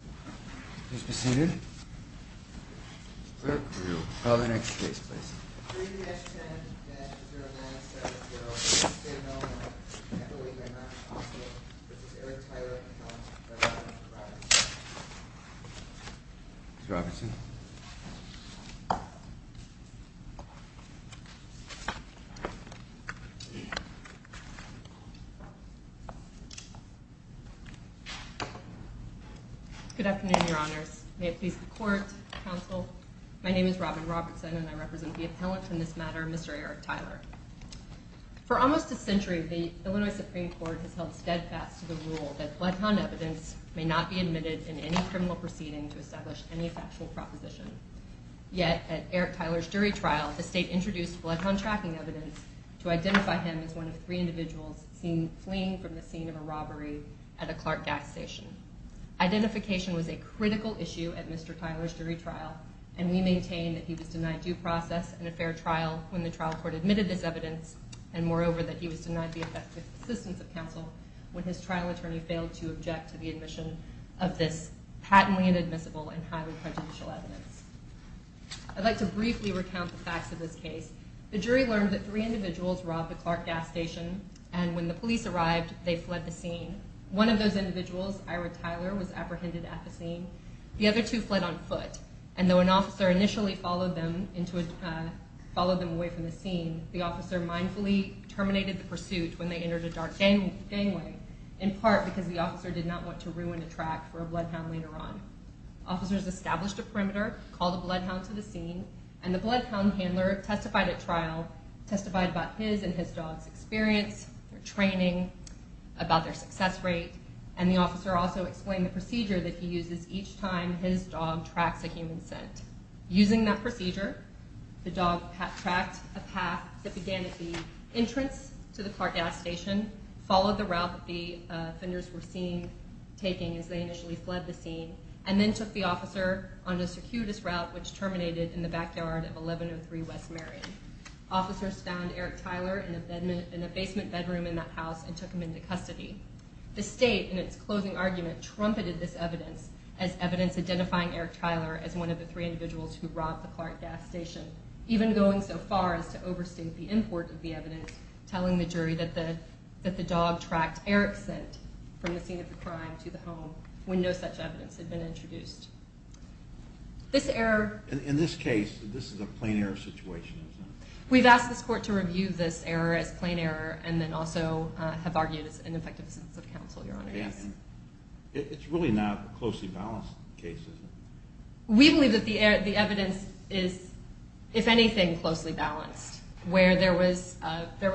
I believe they're not possible. This is Eric Tyler, and he's on behalf of Mr. Robertson. Good afternoon, Your Honors. May it please the Court, Counsel, my name is Robin Robertson, and I represent the appellant in this matter, Mr. Eric Tyler. For almost a century, the criminal proceeding to establish any factual proposition. Yet, at Eric Tyler's jury trial, the State introduced bloodhound tracking evidence to identify him as one of three individuals fleeing from the scene of a robbery at a Clark gas station. Identification was a critical issue at Mr. Tyler's jury trial, and we maintain that he was denied due process and a fair trial when the trial court admitted this evidence, and moreover, that he was denied the effective assistance of counsel when his trial attorney failed to object to the admission of this patently inadmissible and highly prejudicial evidence. I'd like to briefly recount the facts of this case. The jury learned that three individuals robbed the Clark gas station, and when the police arrived, they fled the scene. One of those individuals, Ira Tyler, was apprehended at the scene. The other two fled on foot, and though an officer initially followed them away from the scene, the officer mindfully terminated the pursuit when they entered a dark gangway, in part because the officer did not want to ruin a track for a bloodhound later on. Officers established a perimeter, called the bloodhound to the scene, and the bloodhound handler testified at trial, testified about his and his dog's experience, their training, about their success rate, and the officer also explained the procedure that he uses each time his dog tracks a human scent. Using that procedure, the dog tracked a path that began at the entrance to the Clark gas station, followed the route that the offenders were seen taking as they initially fled the scene, and then took the officer on a circuitous route which terminated in the backyard of 1103 West Marion. Officers found Eric Tyler in a basement bedroom in that house and took him into custody. The state, in its closing argument, trumpeted this evidence as evidence identifying Eric Tyler as the perpetrator of the Clark gas station, even going so far as to overstate the import of the evidence, telling the jury that the dog tracked Eric's scent from the scene of the crime to the home, when no such evidence had been introduced. This error... In this case, this is a plain error situation. We've asked this court to review this error as plain error, and then also have argued it's an ineffective assistance of counsel, Your Honor. If anything, closely balanced, where there was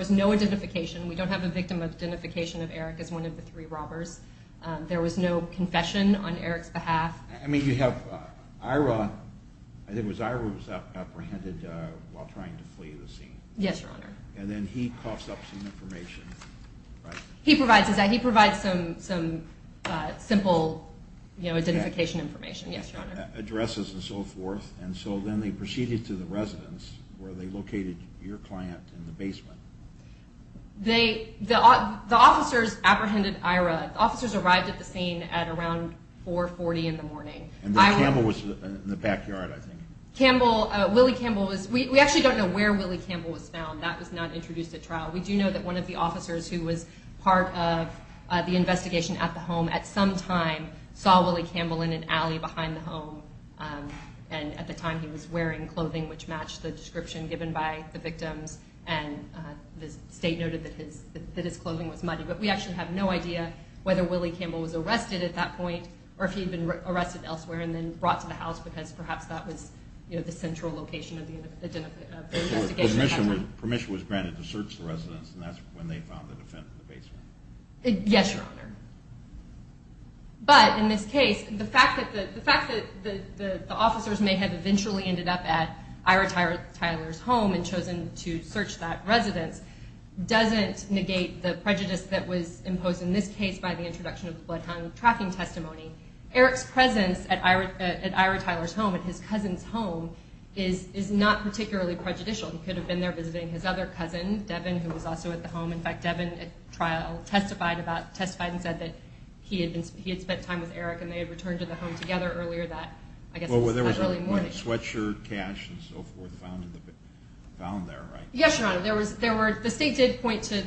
no identification. We don't have a victim identification of Eric as one of the three robbers. There was no confession on Eric's behalf. I mean, you have Ira. I think it was Ira who was apprehended while trying to flee the scene. Yes, Your Honor. And then he coughs up some information. He provides some simple identification information, yes, Your Honor. Addresses and so forth, and so then they proceeded to the residence, where they located your client in the basement. They... The officers apprehended Ira. The officers arrived at the scene at around 4.40 in the morning. And then Campbell was in the backyard, I think. Campbell... Willie Campbell was... We actually don't know where Willie Campbell was found. That was not introduced at trial. We do know that one of the officers who was part of the investigation at the home at some time saw Willie Campbell in an alley behind the home. And at the time, he was wearing clothing which matched the description given by the victims. And the state noted that his clothing was muddy. But we actually have no idea whether Willie Campbell was arrested at that point, or if he had been arrested elsewhere and then brought to the house, because perhaps that was the central location of the investigation. Permission was granted to search the basement. Yes, Your Honor. But in this case, the fact that the officers may have eventually ended up at Ira Tyler's home and chosen to search that residence doesn't negate the prejudice that was imposed in this case by the introduction of the bloodhound tracking testimony. Eric's presence at Ira Tyler's home, at his cousin's home, is not particularly prejudicial. He could have been there visiting his other cousin, Devin, who was also at the home. In fact, Devin testified and said that he had spent time with Eric and they had returned to the home together earlier that early morning. Well, there was sweatshirt, cash, and so forth found there, right? Yes, Your Honor. The state did point to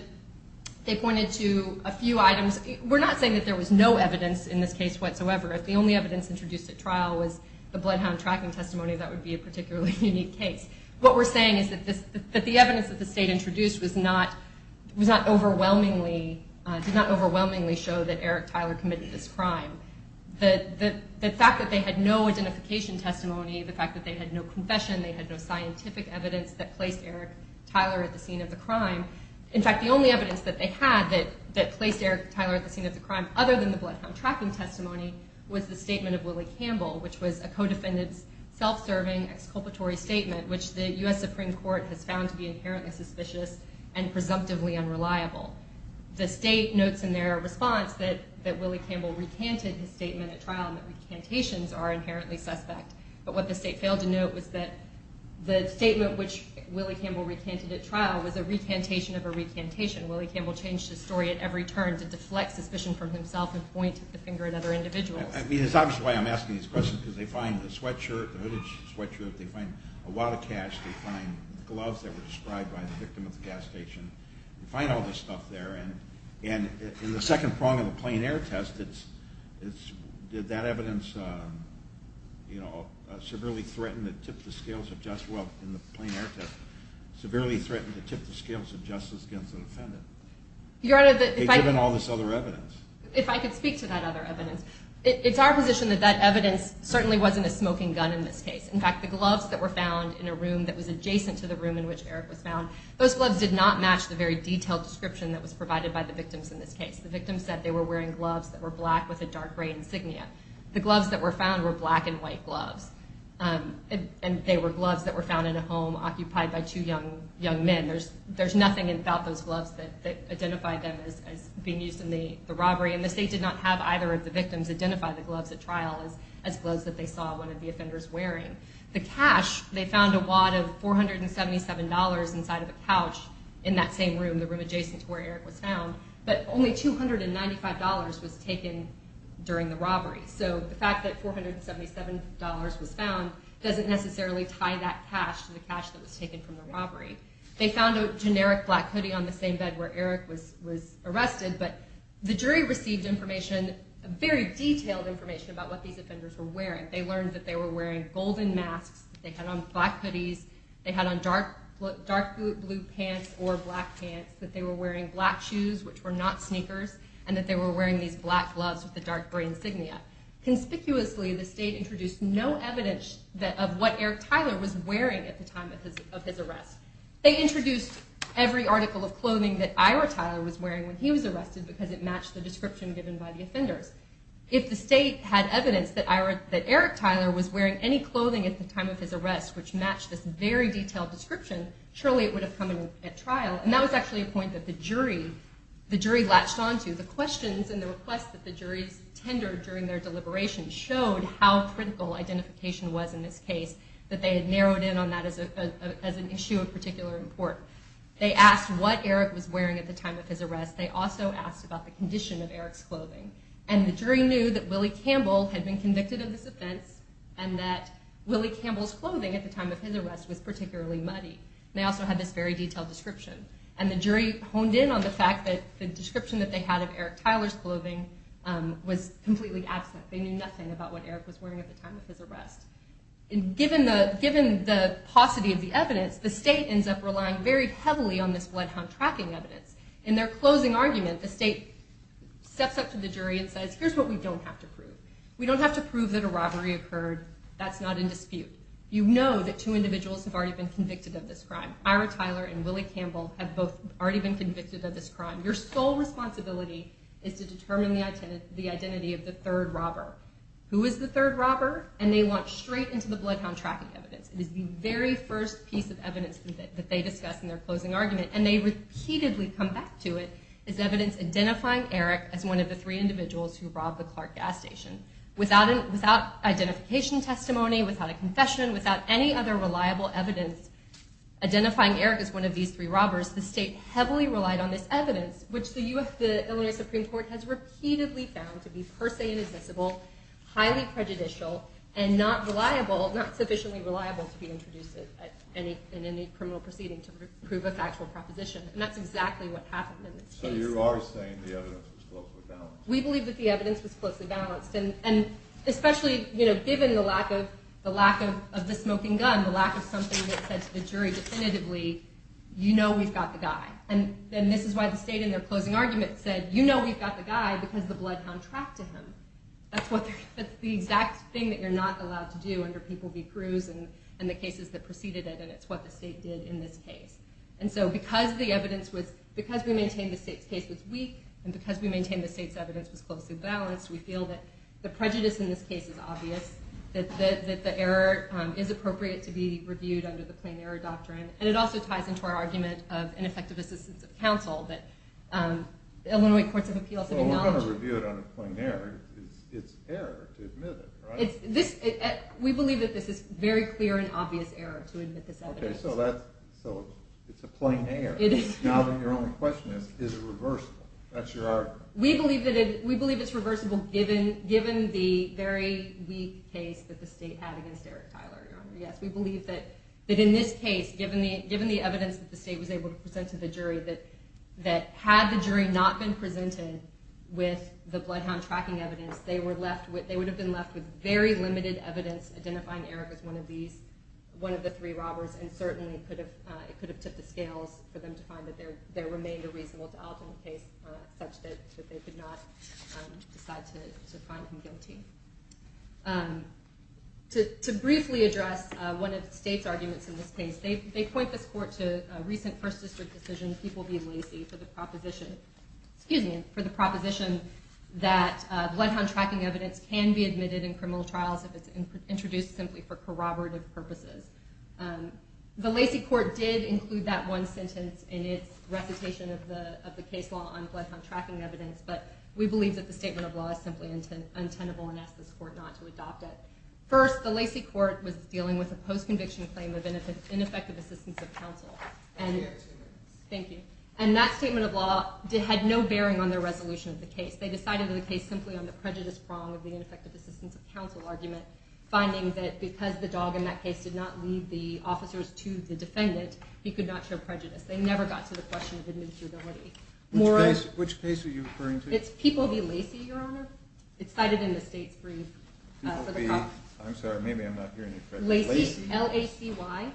a few items. We're not saying that there was no evidence in this case whatsoever. If the only evidence introduced at trial was the bloodhound tracking testimony, that would be a particularly unique case. What we're saying is that the evidence that the state introduced did not overwhelmingly show that Eric Tyler committed this crime. The fact that they had no identification testimony, the fact that they had no confession, they had no scientific evidence that placed Eric Tyler at the scene of the crime. In fact, the only evidence that they had that was Willie Campbell, which was a co-defendant's self-serving exculpatory statement, which the U.S. Supreme Court has found to be inherently suspicious and presumptively unreliable. The state notes in their response that Willie Campbell recanted his statement at trial and that recantations are inherently suspect. But what the state failed to note was that the statement which Willie Campbell recanted at trial was a recantation of a recantation. Willie Campbell changed his story at every turn to deflect suspicion from himself and point the finger at other individuals. I mean, it's obvious why I'm asking these questions, because they find the sweatshirt, the hooded sweatshirt, they find a lot of cash, they find gloves that were described by the victim at the gas station, they find all this stuff there. And in the second prong of the plain air test, did that evidence severely threaten to tip the scales of justice? Well, in the plain air test, they found all this other evidence. If I could speak to that other evidence. It's our position that that evidence certainly wasn't a smoking gun in this case. In fact, the gloves that were found in a room that was adjacent to the room in which Eric was found, those gloves did not match the very detailed description that was provided by the victims in this case. The victims said they were wearing gloves that were black with a dark gray insignia. The gloves that were found were black and white gloves. And they were gloves that were found in a home occupied by two young men. There's nothing about those gloves that identified them as being used in the robbery. And the state did not have either of the victims identify the gloves at trial as gloves that they saw one of the offenders wearing. The cash, they found a wad of $477 inside of a couch in that same room, the room adjacent to where Eric was found. But only $295 was taken during the robbery. So the fact that $477 was found doesn't necessarily tie that cash to the cash that was taken from the robbery. They found a generic black hoodie on the same bed where Eric was arrested, but the jury received information, very detailed information about what these offenders were wearing. They learned that they were wearing golden masks, they had on black hoodies, they had on dark blue pants or black pants, that they were wearing black shoes, which were not sneakers, and that they were wearing these black gloves with the dark gray insignia. Conspicuously, the state introduced no evidence of what Eric Tyler was wearing at the time of his arrest. They introduced every article of clothing that Ira Tyler was wearing when he was arrested because it matched the description given by the offenders. If the state had evidence that Eric Tyler was wearing any clothing at the time of his arrest which matched this very detailed description, surely it would have come at trial. And that was actually a point that the jury latched onto. The questions and the requests that the juries tendered during their deliberations showed how critical identification was in this case, that they had narrowed in on that as an issue of particular import. They asked what Eric was wearing at the time of his arrest. They also asked about the condition of Eric's clothing. And the jury knew that Willie Campbell had been convicted of this crime. And they also had this very detailed description. And the jury honed in on the fact that the description that they had of Eric Tyler's clothing was completely absent. They knew nothing about what Eric was wearing at the time of his arrest. And given the paucity of the evidence, the state ends up relying very heavily on this bloodhound tracking evidence. In their closing argument, the state steps up to the jury and says, here's what we don't have to prove. We don't have to prove that a robbery occurred. That's not in dispute. You know that two individuals have already been convicted of this crime. Ira Tyler and Willie Campbell have both already been convicted of this crime. Your sole responsibility is to determine the identity of the third robber. Who is the third robber? And they launch straight into the bloodhound tracking evidence. It is the very first piece of evidence that they discuss in their closing argument. And they repeatedly come back to it as evidence identifying Eric as one of the three individuals who robbed the Clark gas station. Without identification testimony, without a confession, without any other reliable evidence identifying Eric as one of these three robbers, the state heavily relied on this evidence, which the Illinois Supreme Court has repeatedly found to be per se inadmissible, highly prejudicial, and not sufficiently reliable to be introduced in any criminal proceeding to prove a factual proposition. And that's exactly what happened in this case. We believe that the evidence was closely balanced. And especially given the lack of the smoking gun, the lack of something that said to the jury definitively, you know we've got the guy. And this is why the state in their closing argument said, you know we've got the guy because the bloodhound tracked him. That's the exact thing that you're not allowed to do under people v. Cruz and the cases that preceded it. And it's what the state did in this case. And so because the evidence was, because we maintained the state's case was weak, and because we maintained the state's evidence was closely balanced, we feel that the prejudice in this case is obvious. That the error is appropriate to be reviewed under the plain error doctrine. And it also ties into our argument of ineffective assistance of counsel that the Illinois Courts of Appeals have acknowledged. We believe that this is very clear and obvious error to admit this evidence. So it's a plain error. Now your only question is, is it reversible? That's your argument. We believe it's reversible given the very weak case that the state had against Eric Tyler, Your Honor. Yes, we believe that in this case, given the evidence that the state was able to present to the jury, that had the jury not been presented with the bloodhound tracking evidence, they would have been left with very limited evidence identifying Eric as one of the three robbers. And certainly it could have tipped the scales for them to find that there remained a reasonable doubt in the case such that they could not decide to find him guilty. To briefly address one of the state's arguments in this case, they point this court to a recent First District decision, People v. Lacey, for the proposition that bloodhound tracking evidence can be admitted in criminal trials if it's introduced simply for corroborative purposes. The Lacey court did include that one sentence in its recitation of the case law on bloodhound tracking evidence, but we believe that the statement of law is simply untenable and ask this court not to adopt it. First, the Lacey court was dealing with a post-conviction claim of ineffective assistance of counsel. Thank you. And that statement of law had no bearing on their resolution of the case. They decided on the prejudice prong of the ineffective assistance of counsel argument, finding that because the dog in that case did not lead the officers to the defendant, he could not show prejudice. They never got to the question of admissibility. Which case are you referring to? It's People v. Lacey, Your Honor. I'm sorry, maybe I'm not hearing you correctly. Lacey, L-A-C-Y.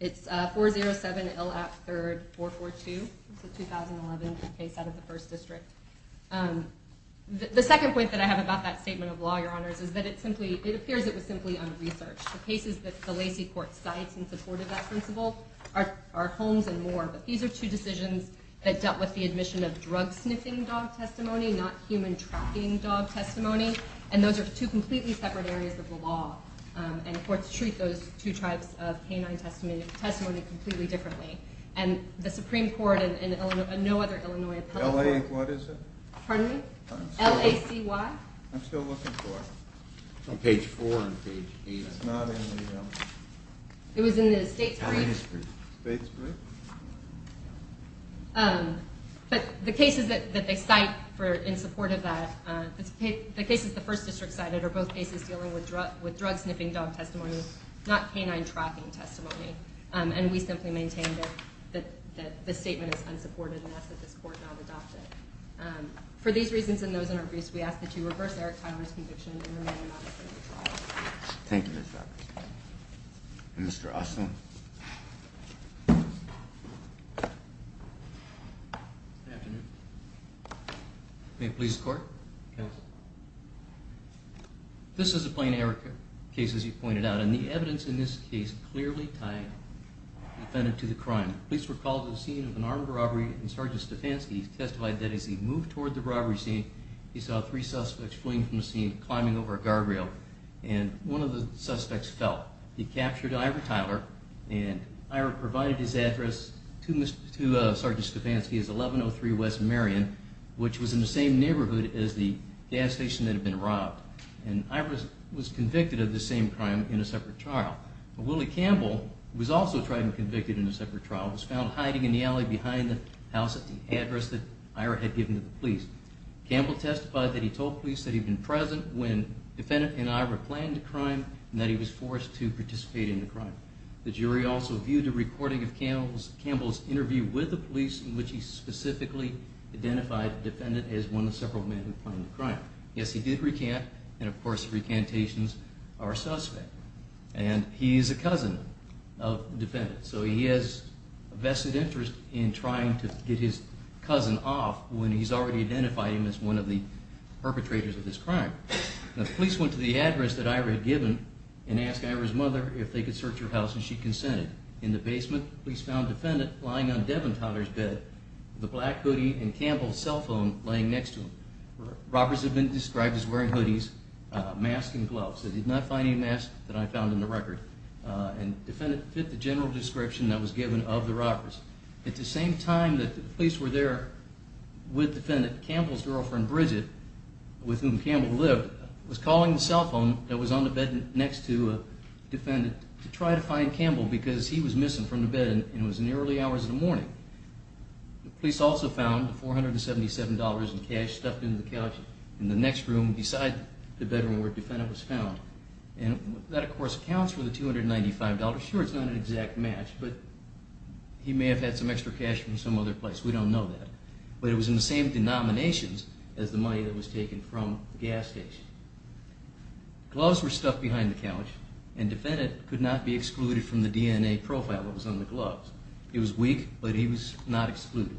It's 4-0-7-L-A-P-3-R-D-4-4-2. It's a 2011 case out of the First District. The second point that I have about that statement of law, Your Honors, is that it appears it was simply unresearched. The cases that the Lacey court cites in support of that principle are Holmes and Moore, but these are two decisions that dealt with the admission of drug-sniffing dog testimony, not human-tracking dog testimony, and those are two completely separate areas of the law. And courts treat those two types of canine testimony completely differently. And the Supreme Court and no other Illinois appellate court... L-A- what is it? Pardon me? L-A-C-Y? I'm still looking for it. It's on page 4 and page 8. It's not in the... It was in the State's brief. State's brief. But the cases that they cite in support of that, the cases the First District cited, are both cases dealing with drug-sniffing dog testimony, not canine-tracking testimony. And we simply maintain that the statement is unsupported and ask that this court not adopt it. For these reasons and those in our briefs, we ask that you reverse Eric Tyler's conviction and remain with us. Good afternoon. May it please the Court? This is a plain Eric case, as you pointed out, and the evidence in this case clearly tied the defendant to the crime. Police recalled the scene of an armed robbery, and Sergeant Stefanski testified that as he moved toward the robbery scene, he saw three suspects fleeing from the scene, climbing over a guardrail, and one of the suspects fell. He captured Ira Tyler, and Ira provided his address to Sergeant Stefanski as 1103 West Marion, which was in the same neighborhood as the gas station that had been robbed. And Ira was convicted of the same crime in a separate trial. Willie Campbell was also tried and convicted in a separate trial and was found hiding in the alley behind the house at the address that Ira had given to the police. Campbell testified that he told police that he had been present when the defendant and Ira planned the crime and that he was forced to participate in the crime. The jury also viewed a recording of Campbell's interview with the police in which he specifically identified the defendant as one of several men who planned the crime. Yes, he did recant, and of course, recantations are a suspect. And he is a cousin of the defendant, so he has a vested interest in trying to get his cousin off when he's already identified him as one of the perpetrators of this crime. The police went to the address that Ira had given and asked Ira's mother if they could search her house, and she consented. In the basement, police found the defendant lying on Devin Tyler's bed with a black hoodie and Campbell's cell phone laying next to him. Robbers have been described as wearing hoodies, masks, and gloves. They did not find any masks that I found in the record, and the defendant fit the general description that was given of the robbers. At the same time that the police were there with the defendant, Campbell's girlfriend, Bridget, with whom Campbell lived, was calling the cell phone that was on the bed next to the defendant to try to find Campbell because he was missing from the bed and it was in the early hours of the morning. The police also found $477 in cash stuffed into the couch in the next room beside the bedroom where the defendant was found, and that of course accounts for the $295. Sure, it's not an exact match, but he may have had some extra cash from some other place. We don't know that, but it was in the same denominations as the money that was taken from the gas station. Gloves were stuffed behind the couch, and the defendant could not be excluded from the DNA profile that was on the gloves. He was weak, but he was not excluded.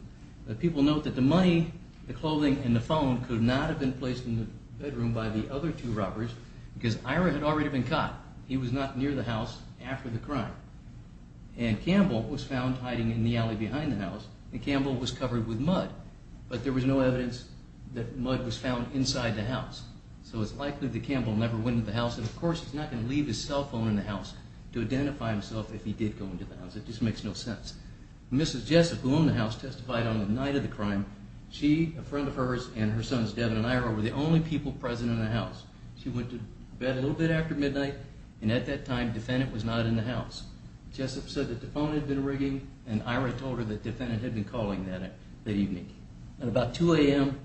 People note that the money, the clothing, and the phone could not have been placed in the bedroom by the other two robbers because Ira had already been caught. He was not near the house after the crime. And Campbell was found hiding in the alley behind the house, and Campbell was covered with mud, but there was no evidence that mud was found inside the house. So it's likely that Campbell never went into the house, and of course he's not going to leave his cell phone in the house to identify himself if he did go into the house. It just makes no sense. Mrs. Jessup, who owned the house, testified on the night of the crime. She, a friend of hers, and her sons, Devin and Ira, were the only people present in the house. She went to bed a little bit after midnight, and at that time, the defendant was not in the house. Jessup said that the phone had been ringing, and Ira told her that the defendant had been calling that evening. At about 2 a.m.,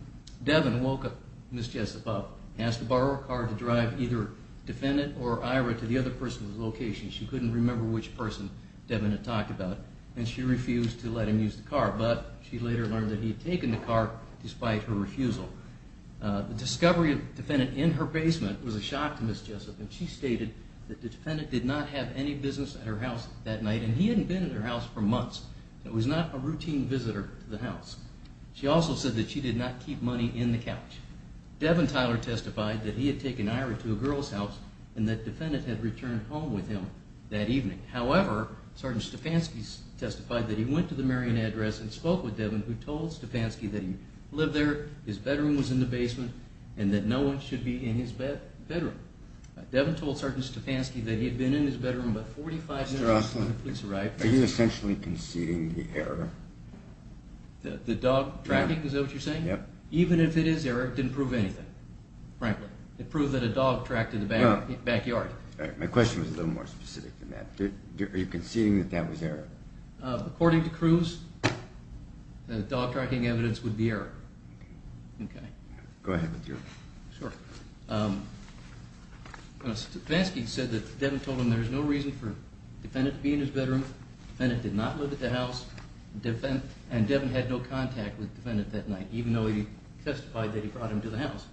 Devin woke up Mrs. Jessup up. He asked to borrow a car to drive either the defendant or Ira to the other person's location. She couldn't remember which person Devin had talked about, and she refused to let him use the car, but she later learned that he had taken the car despite her refusal. The discovery of the defendant in her basement was a shock to Mrs. Jessup, and she stated that the defendant did not have any business at her house that night, and he hadn't been at her house for months. It was not a routine visitor to the house. She also said that she did not keep money in the couch. Devin Tyler testified that he had taken Ira to a girl's house, and that the defendant had returned home with him that evening. However, Sergeant Stefanski testified that he went to the Marion address and spoke with Devin, who told Stefanski that he lived there, his bedroom was in the basement, and that no one should be in his bedroom. Devin told Sergeant Stefanski that he had been in his bedroom about 45 minutes before the police arrived. Are you essentially conceding the error? The dog tracking, is that what you're saying? Even if it is error, it didn't prove anything, frankly. It proved that a dog tracked in the backyard. My question was a little more specific than that. Are you conceding that that was error? According to Cruz, the dog tracking evidence would be error. Go ahead. Stefanski said that Devin told him there was no reason for the defendant to be in his bedroom, the defendant did not live at the house, and Devin had no contact with the defendant that night, even though he testified that he brought him to the house.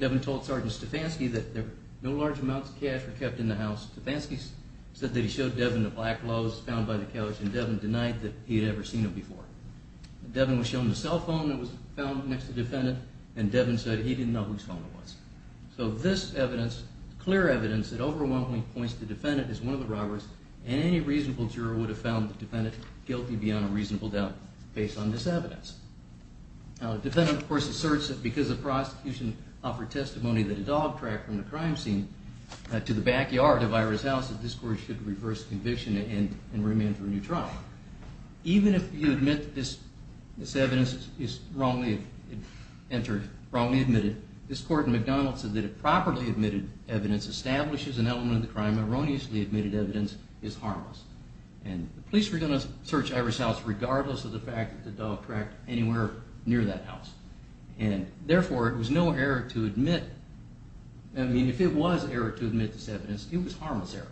Devin told Sergeant Stefanski that no large amounts of cash were kept in the house. Stefanski said that he showed Devin the black gloves found by the couch, and Devin denied that he had ever seen them before. Devin was shown the cell phone that was found next to the defendant, and Devin said he didn't know whose phone it was. So this evidence, clear evidence, overwhelmingly points to the defendant as one of the robbers, and any reasonable juror would have found the defendant guilty beyond a reasonable doubt based on this evidence. Now, the defendant, of course, asserts that because the prosecution offered testimony that a dog tracked from the crime scene to the backyard of Ira's house, that this court should reverse conviction and remand for a new trial. Even if you admit that this evidence is wrongly admitted, this court in McDonald's said that if properly admitted evidence establishes an element of the crime, erroneously admitted evidence is harmless. And the police were going to search Ira's house regardless of the fact that the dog tracked anywhere near that house. And therefore, it was no error to admit, I mean, if it was error to admit this evidence, it was harmless error.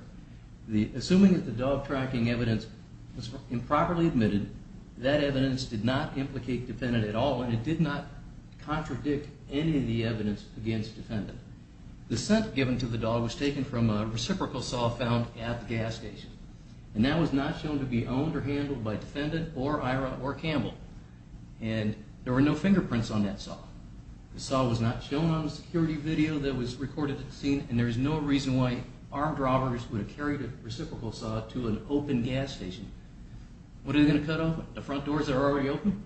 Assuming that the dog tracking evidence was improperly admitted, that evidence did not implicate the defendant at all, and it did not contradict any of the evidence against the defendant. The scent given to the dog was taken from a reciprocal saw found at the gas station. And that was not shown to be owned or handled by the defendant or Ira or Campbell. And there were no fingerprints on that saw. The saw was not shown on the security video that was recorded at the scene, and there is no reason why armed robbers would have carried a reciprocal saw to an open gas station. What are they going to cut off? The front doors that are already open?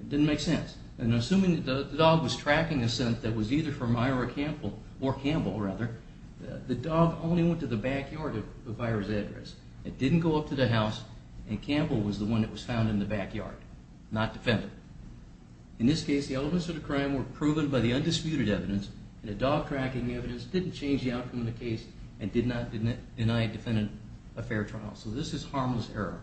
It didn't make sense. And assuming that the dog was tracking a scent that was either from Ira or Campbell, the dog only went to the backyard of Ira's address. It didn't go up to the house, and Campbell was the one that was found in the backyard, not the defendant. In this case, the elements of the crime were proven by the undisputed evidence, and the dog tracking evidence didn't change the outcome of the case and did not deny a defendant a fair trial. So this is harmless error.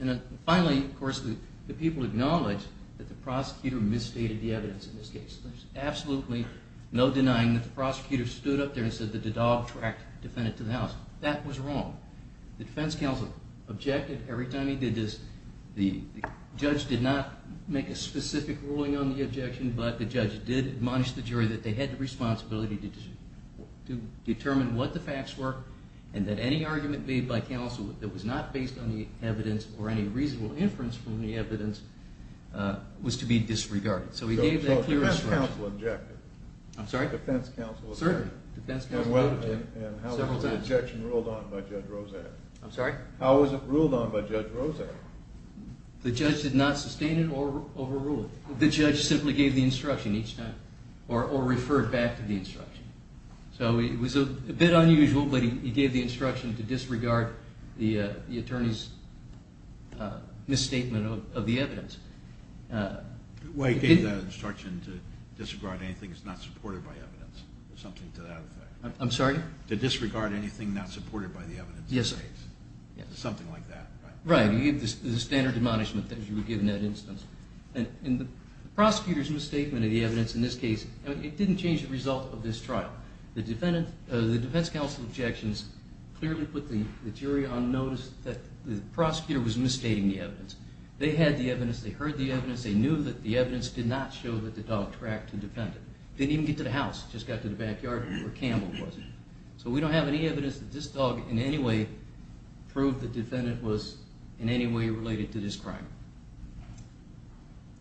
And finally, of course, the people acknowledged that the prosecutor misstated the evidence in this case. There's absolutely no denying that the prosecutor stood up there and said that the dog tracked the defendant to the house. That was wrong. The defense counsel objected every time he did this. The judge did not make a specific ruling on the objection, but the judge did admonish the jury that they had the responsibility to determine what the facts were and that any argument made by counsel that was not based on the evidence or any reasonable inference from the evidence was to be disregarded. So the defense counsel objected? I'm sorry? I'm sorry? The judge did not sustain it or overrule it. The judge simply gave the instruction each time or referred back to the instruction. So it was a bit unusual, but he gave the instruction to disregard the attorney's misstatement of the evidence. Well, he gave the instruction to disregard anything that's not supported by evidence or something to that effect. I'm sorry? To disregard anything not supported by the evidence. Yes, sir. Something like that. Right. The prosecutor's misstatement of the evidence in this case, it didn't change the result of this trial. The defense counsel objections clearly put the jury on notice that the prosecutor was misstating the evidence. They had the evidence. They heard the evidence. They knew that the evidence did not show that the dog tracked the defendant. It didn't even get to the house. It just got to the backyard where Campbell was. So we don't have any evidence that this dog in any way proved the defendant was in any way related to this crime.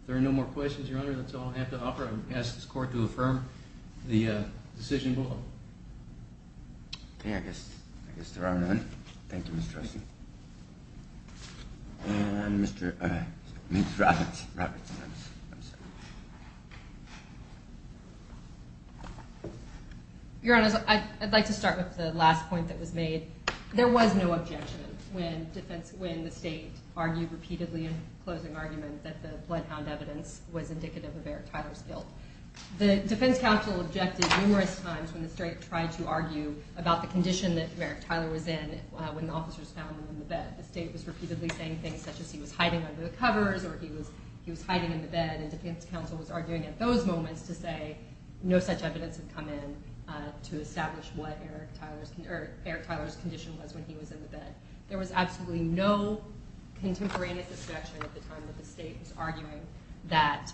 If there are no more questions, Your Honor, that's all I have to offer. I'm going to ask this court to affirm the decision below. Okay, I guess there are none. Thank you, Mr. Rusty. And Mr. Roberts. Your Honor, I'd like to start with the last point that was made. There was no objection when the state argued repeatedly in closing argument that the bloodhound evidence was indicative of Eric Tyler's guilt. The defense counsel objected numerous times when the state tried to argue about the condition that Eric Tyler was in when the officers found him in the bed. The state was repeatedly saying things such as he was hiding under the covers or he was hiding in the bed, and defense counsel was arguing at those moments to say no such evidence had come in to establish what Eric Tyler's condition was when he was in the bed. There was absolutely no contemporaneous objection at the time that the state was arguing that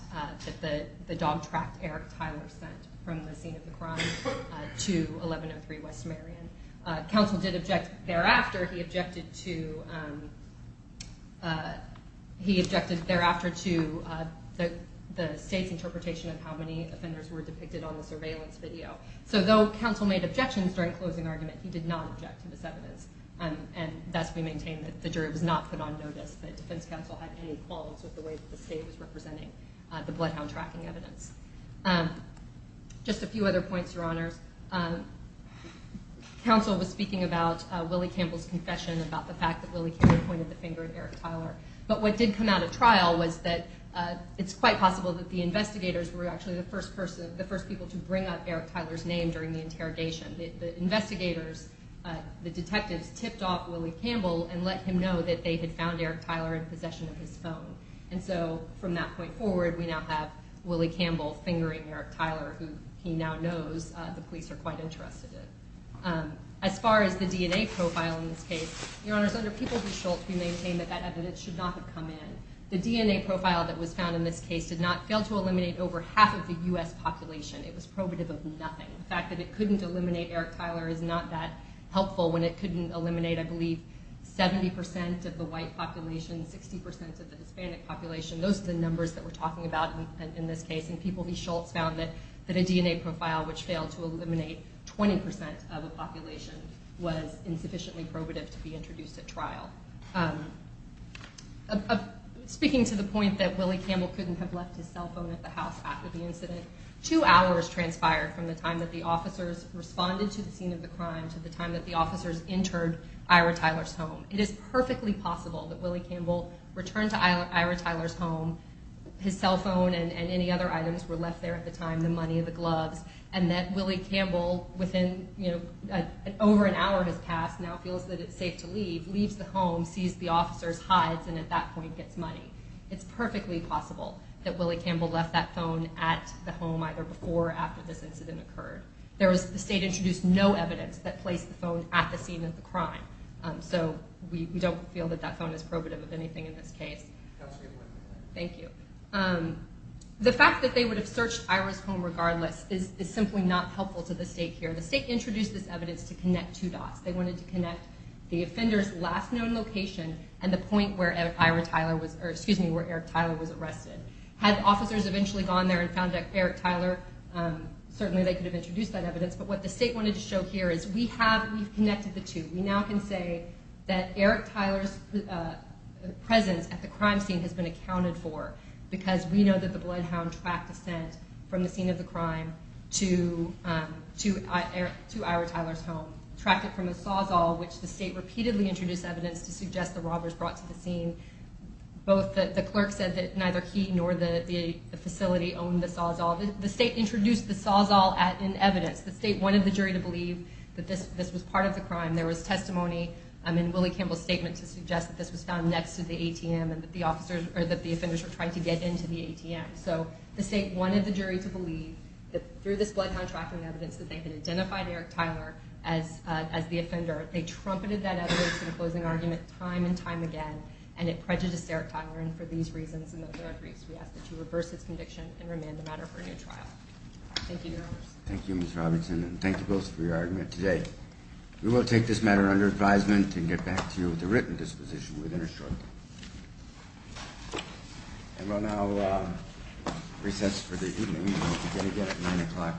the dog tracked Eric Tyler sent from the scene of the crime to 1103 West Merion. Counsel did object thereafter. He objected thereafter to the state's interpretation of how many offenders were depicted on the surveillance video. So though counsel made objections during closing argument, he did not object to this evidence, and thus we maintain that the jury was not put on notice that defense counsel had any qualms with the way that the state was representing the bloodhound tracking evidence. Just a few other points, Your Honors. Counsel was speaking about Willie Campbell's confession about the fact that Willie Campbell pointed the finger at Eric Tyler, but what did come out of trial was that it's quite possible that the investigators were actually the first people to bring up Eric Tyler's name during the interrogation. The investigators, the detectives, tipped off Willie Campbell and let him know that they had found Eric Tyler in possession of his phone, and so from that point forward, we now have Willie Campbell fingering Eric Tyler, who he now knows the police are quite interested in. As far as the DNA profile in this case, Your Honors, under People v. Schultz, we maintain that that evidence should not have come in. The DNA profile that was found in this case did not fail to eliminate over half of the U.S. population. It was probative of nothing. The fact that it couldn't eliminate Eric Tyler is not that helpful when it couldn't eliminate, I believe, 70% of the white population, 60% of the Hispanic population. Those are the numbers that we're talking about in this case, and People v. Schultz found that a DNA profile which failed to eliminate 20% of the population was insufficiently probative to be introduced at trial. Speaking to the point that Willie Campbell couldn't have left his cell phone at the house after the incident, two hours transpired from the time that the officers responded to the scene of the crime to the time that the officers entered Ira Tyler's home. It is perfectly possible that Willie Campbell returned to Ira Tyler's home, his cell phone and any other items were left there at the time, the money, the gloves, and that Willie Campbell, over an hour has passed, now feels that it's safe to leave, leaves the home, sees the officers, hides, and at that point gets money. It's perfectly possible that Willie Campbell left that phone at the home either before or after this incident occurred. The state introduced no evidence that placed the phone at the scene of the crime, so we don't feel that that phone is probative of anything in this case. The fact that they would have searched Ira's home regardless is simply not helpful to the state here. The state introduced this evidence to connect two dots. They wanted to connect the offender's last known location and the point where Eric Tyler was arrested. Had officers eventually gone there and found Eric Tyler, certainly they could have introduced that evidence, but what the state wanted to show here is we have connected the two. We now can say that Eric Tyler's presence at the crime scene has been accounted for because we know that the bloodhound tracked a scent from the scene of the crime to Ira Tyler's home, tracked it from a sawzall, which the state repeatedly introduced evidence to suggest the robbers brought to the scene. Both the clerk said that neither he nor the facility owned the sawzall. The state introduced the sawzall in evidence. The state wanted the jury to believe that this was part of the crime. There was testimony in Willie Campbell's statement to suggest that this was found next to the ATM and that the offenders were trying to get into the ATM. So the state wanted the jury to believe that through this bloodhound tracking evidence that they had identified Eric Tyler as the offender. They trumpeted that evidence in a closing argument time and time again, and it prejudiced Eric Tyler, and for these reasons and those other briefs, we ask that you reverse its conviction and remand the matter for a new trial. Thank you, Your Honors. Thank you, Ms. Robinson, and thank you both for your argument today. We will take this matter under advisement and get back to you with a written disposition within a short time. And we'll now recess for the evening. We'll begin again at 9 o'clock in the morning.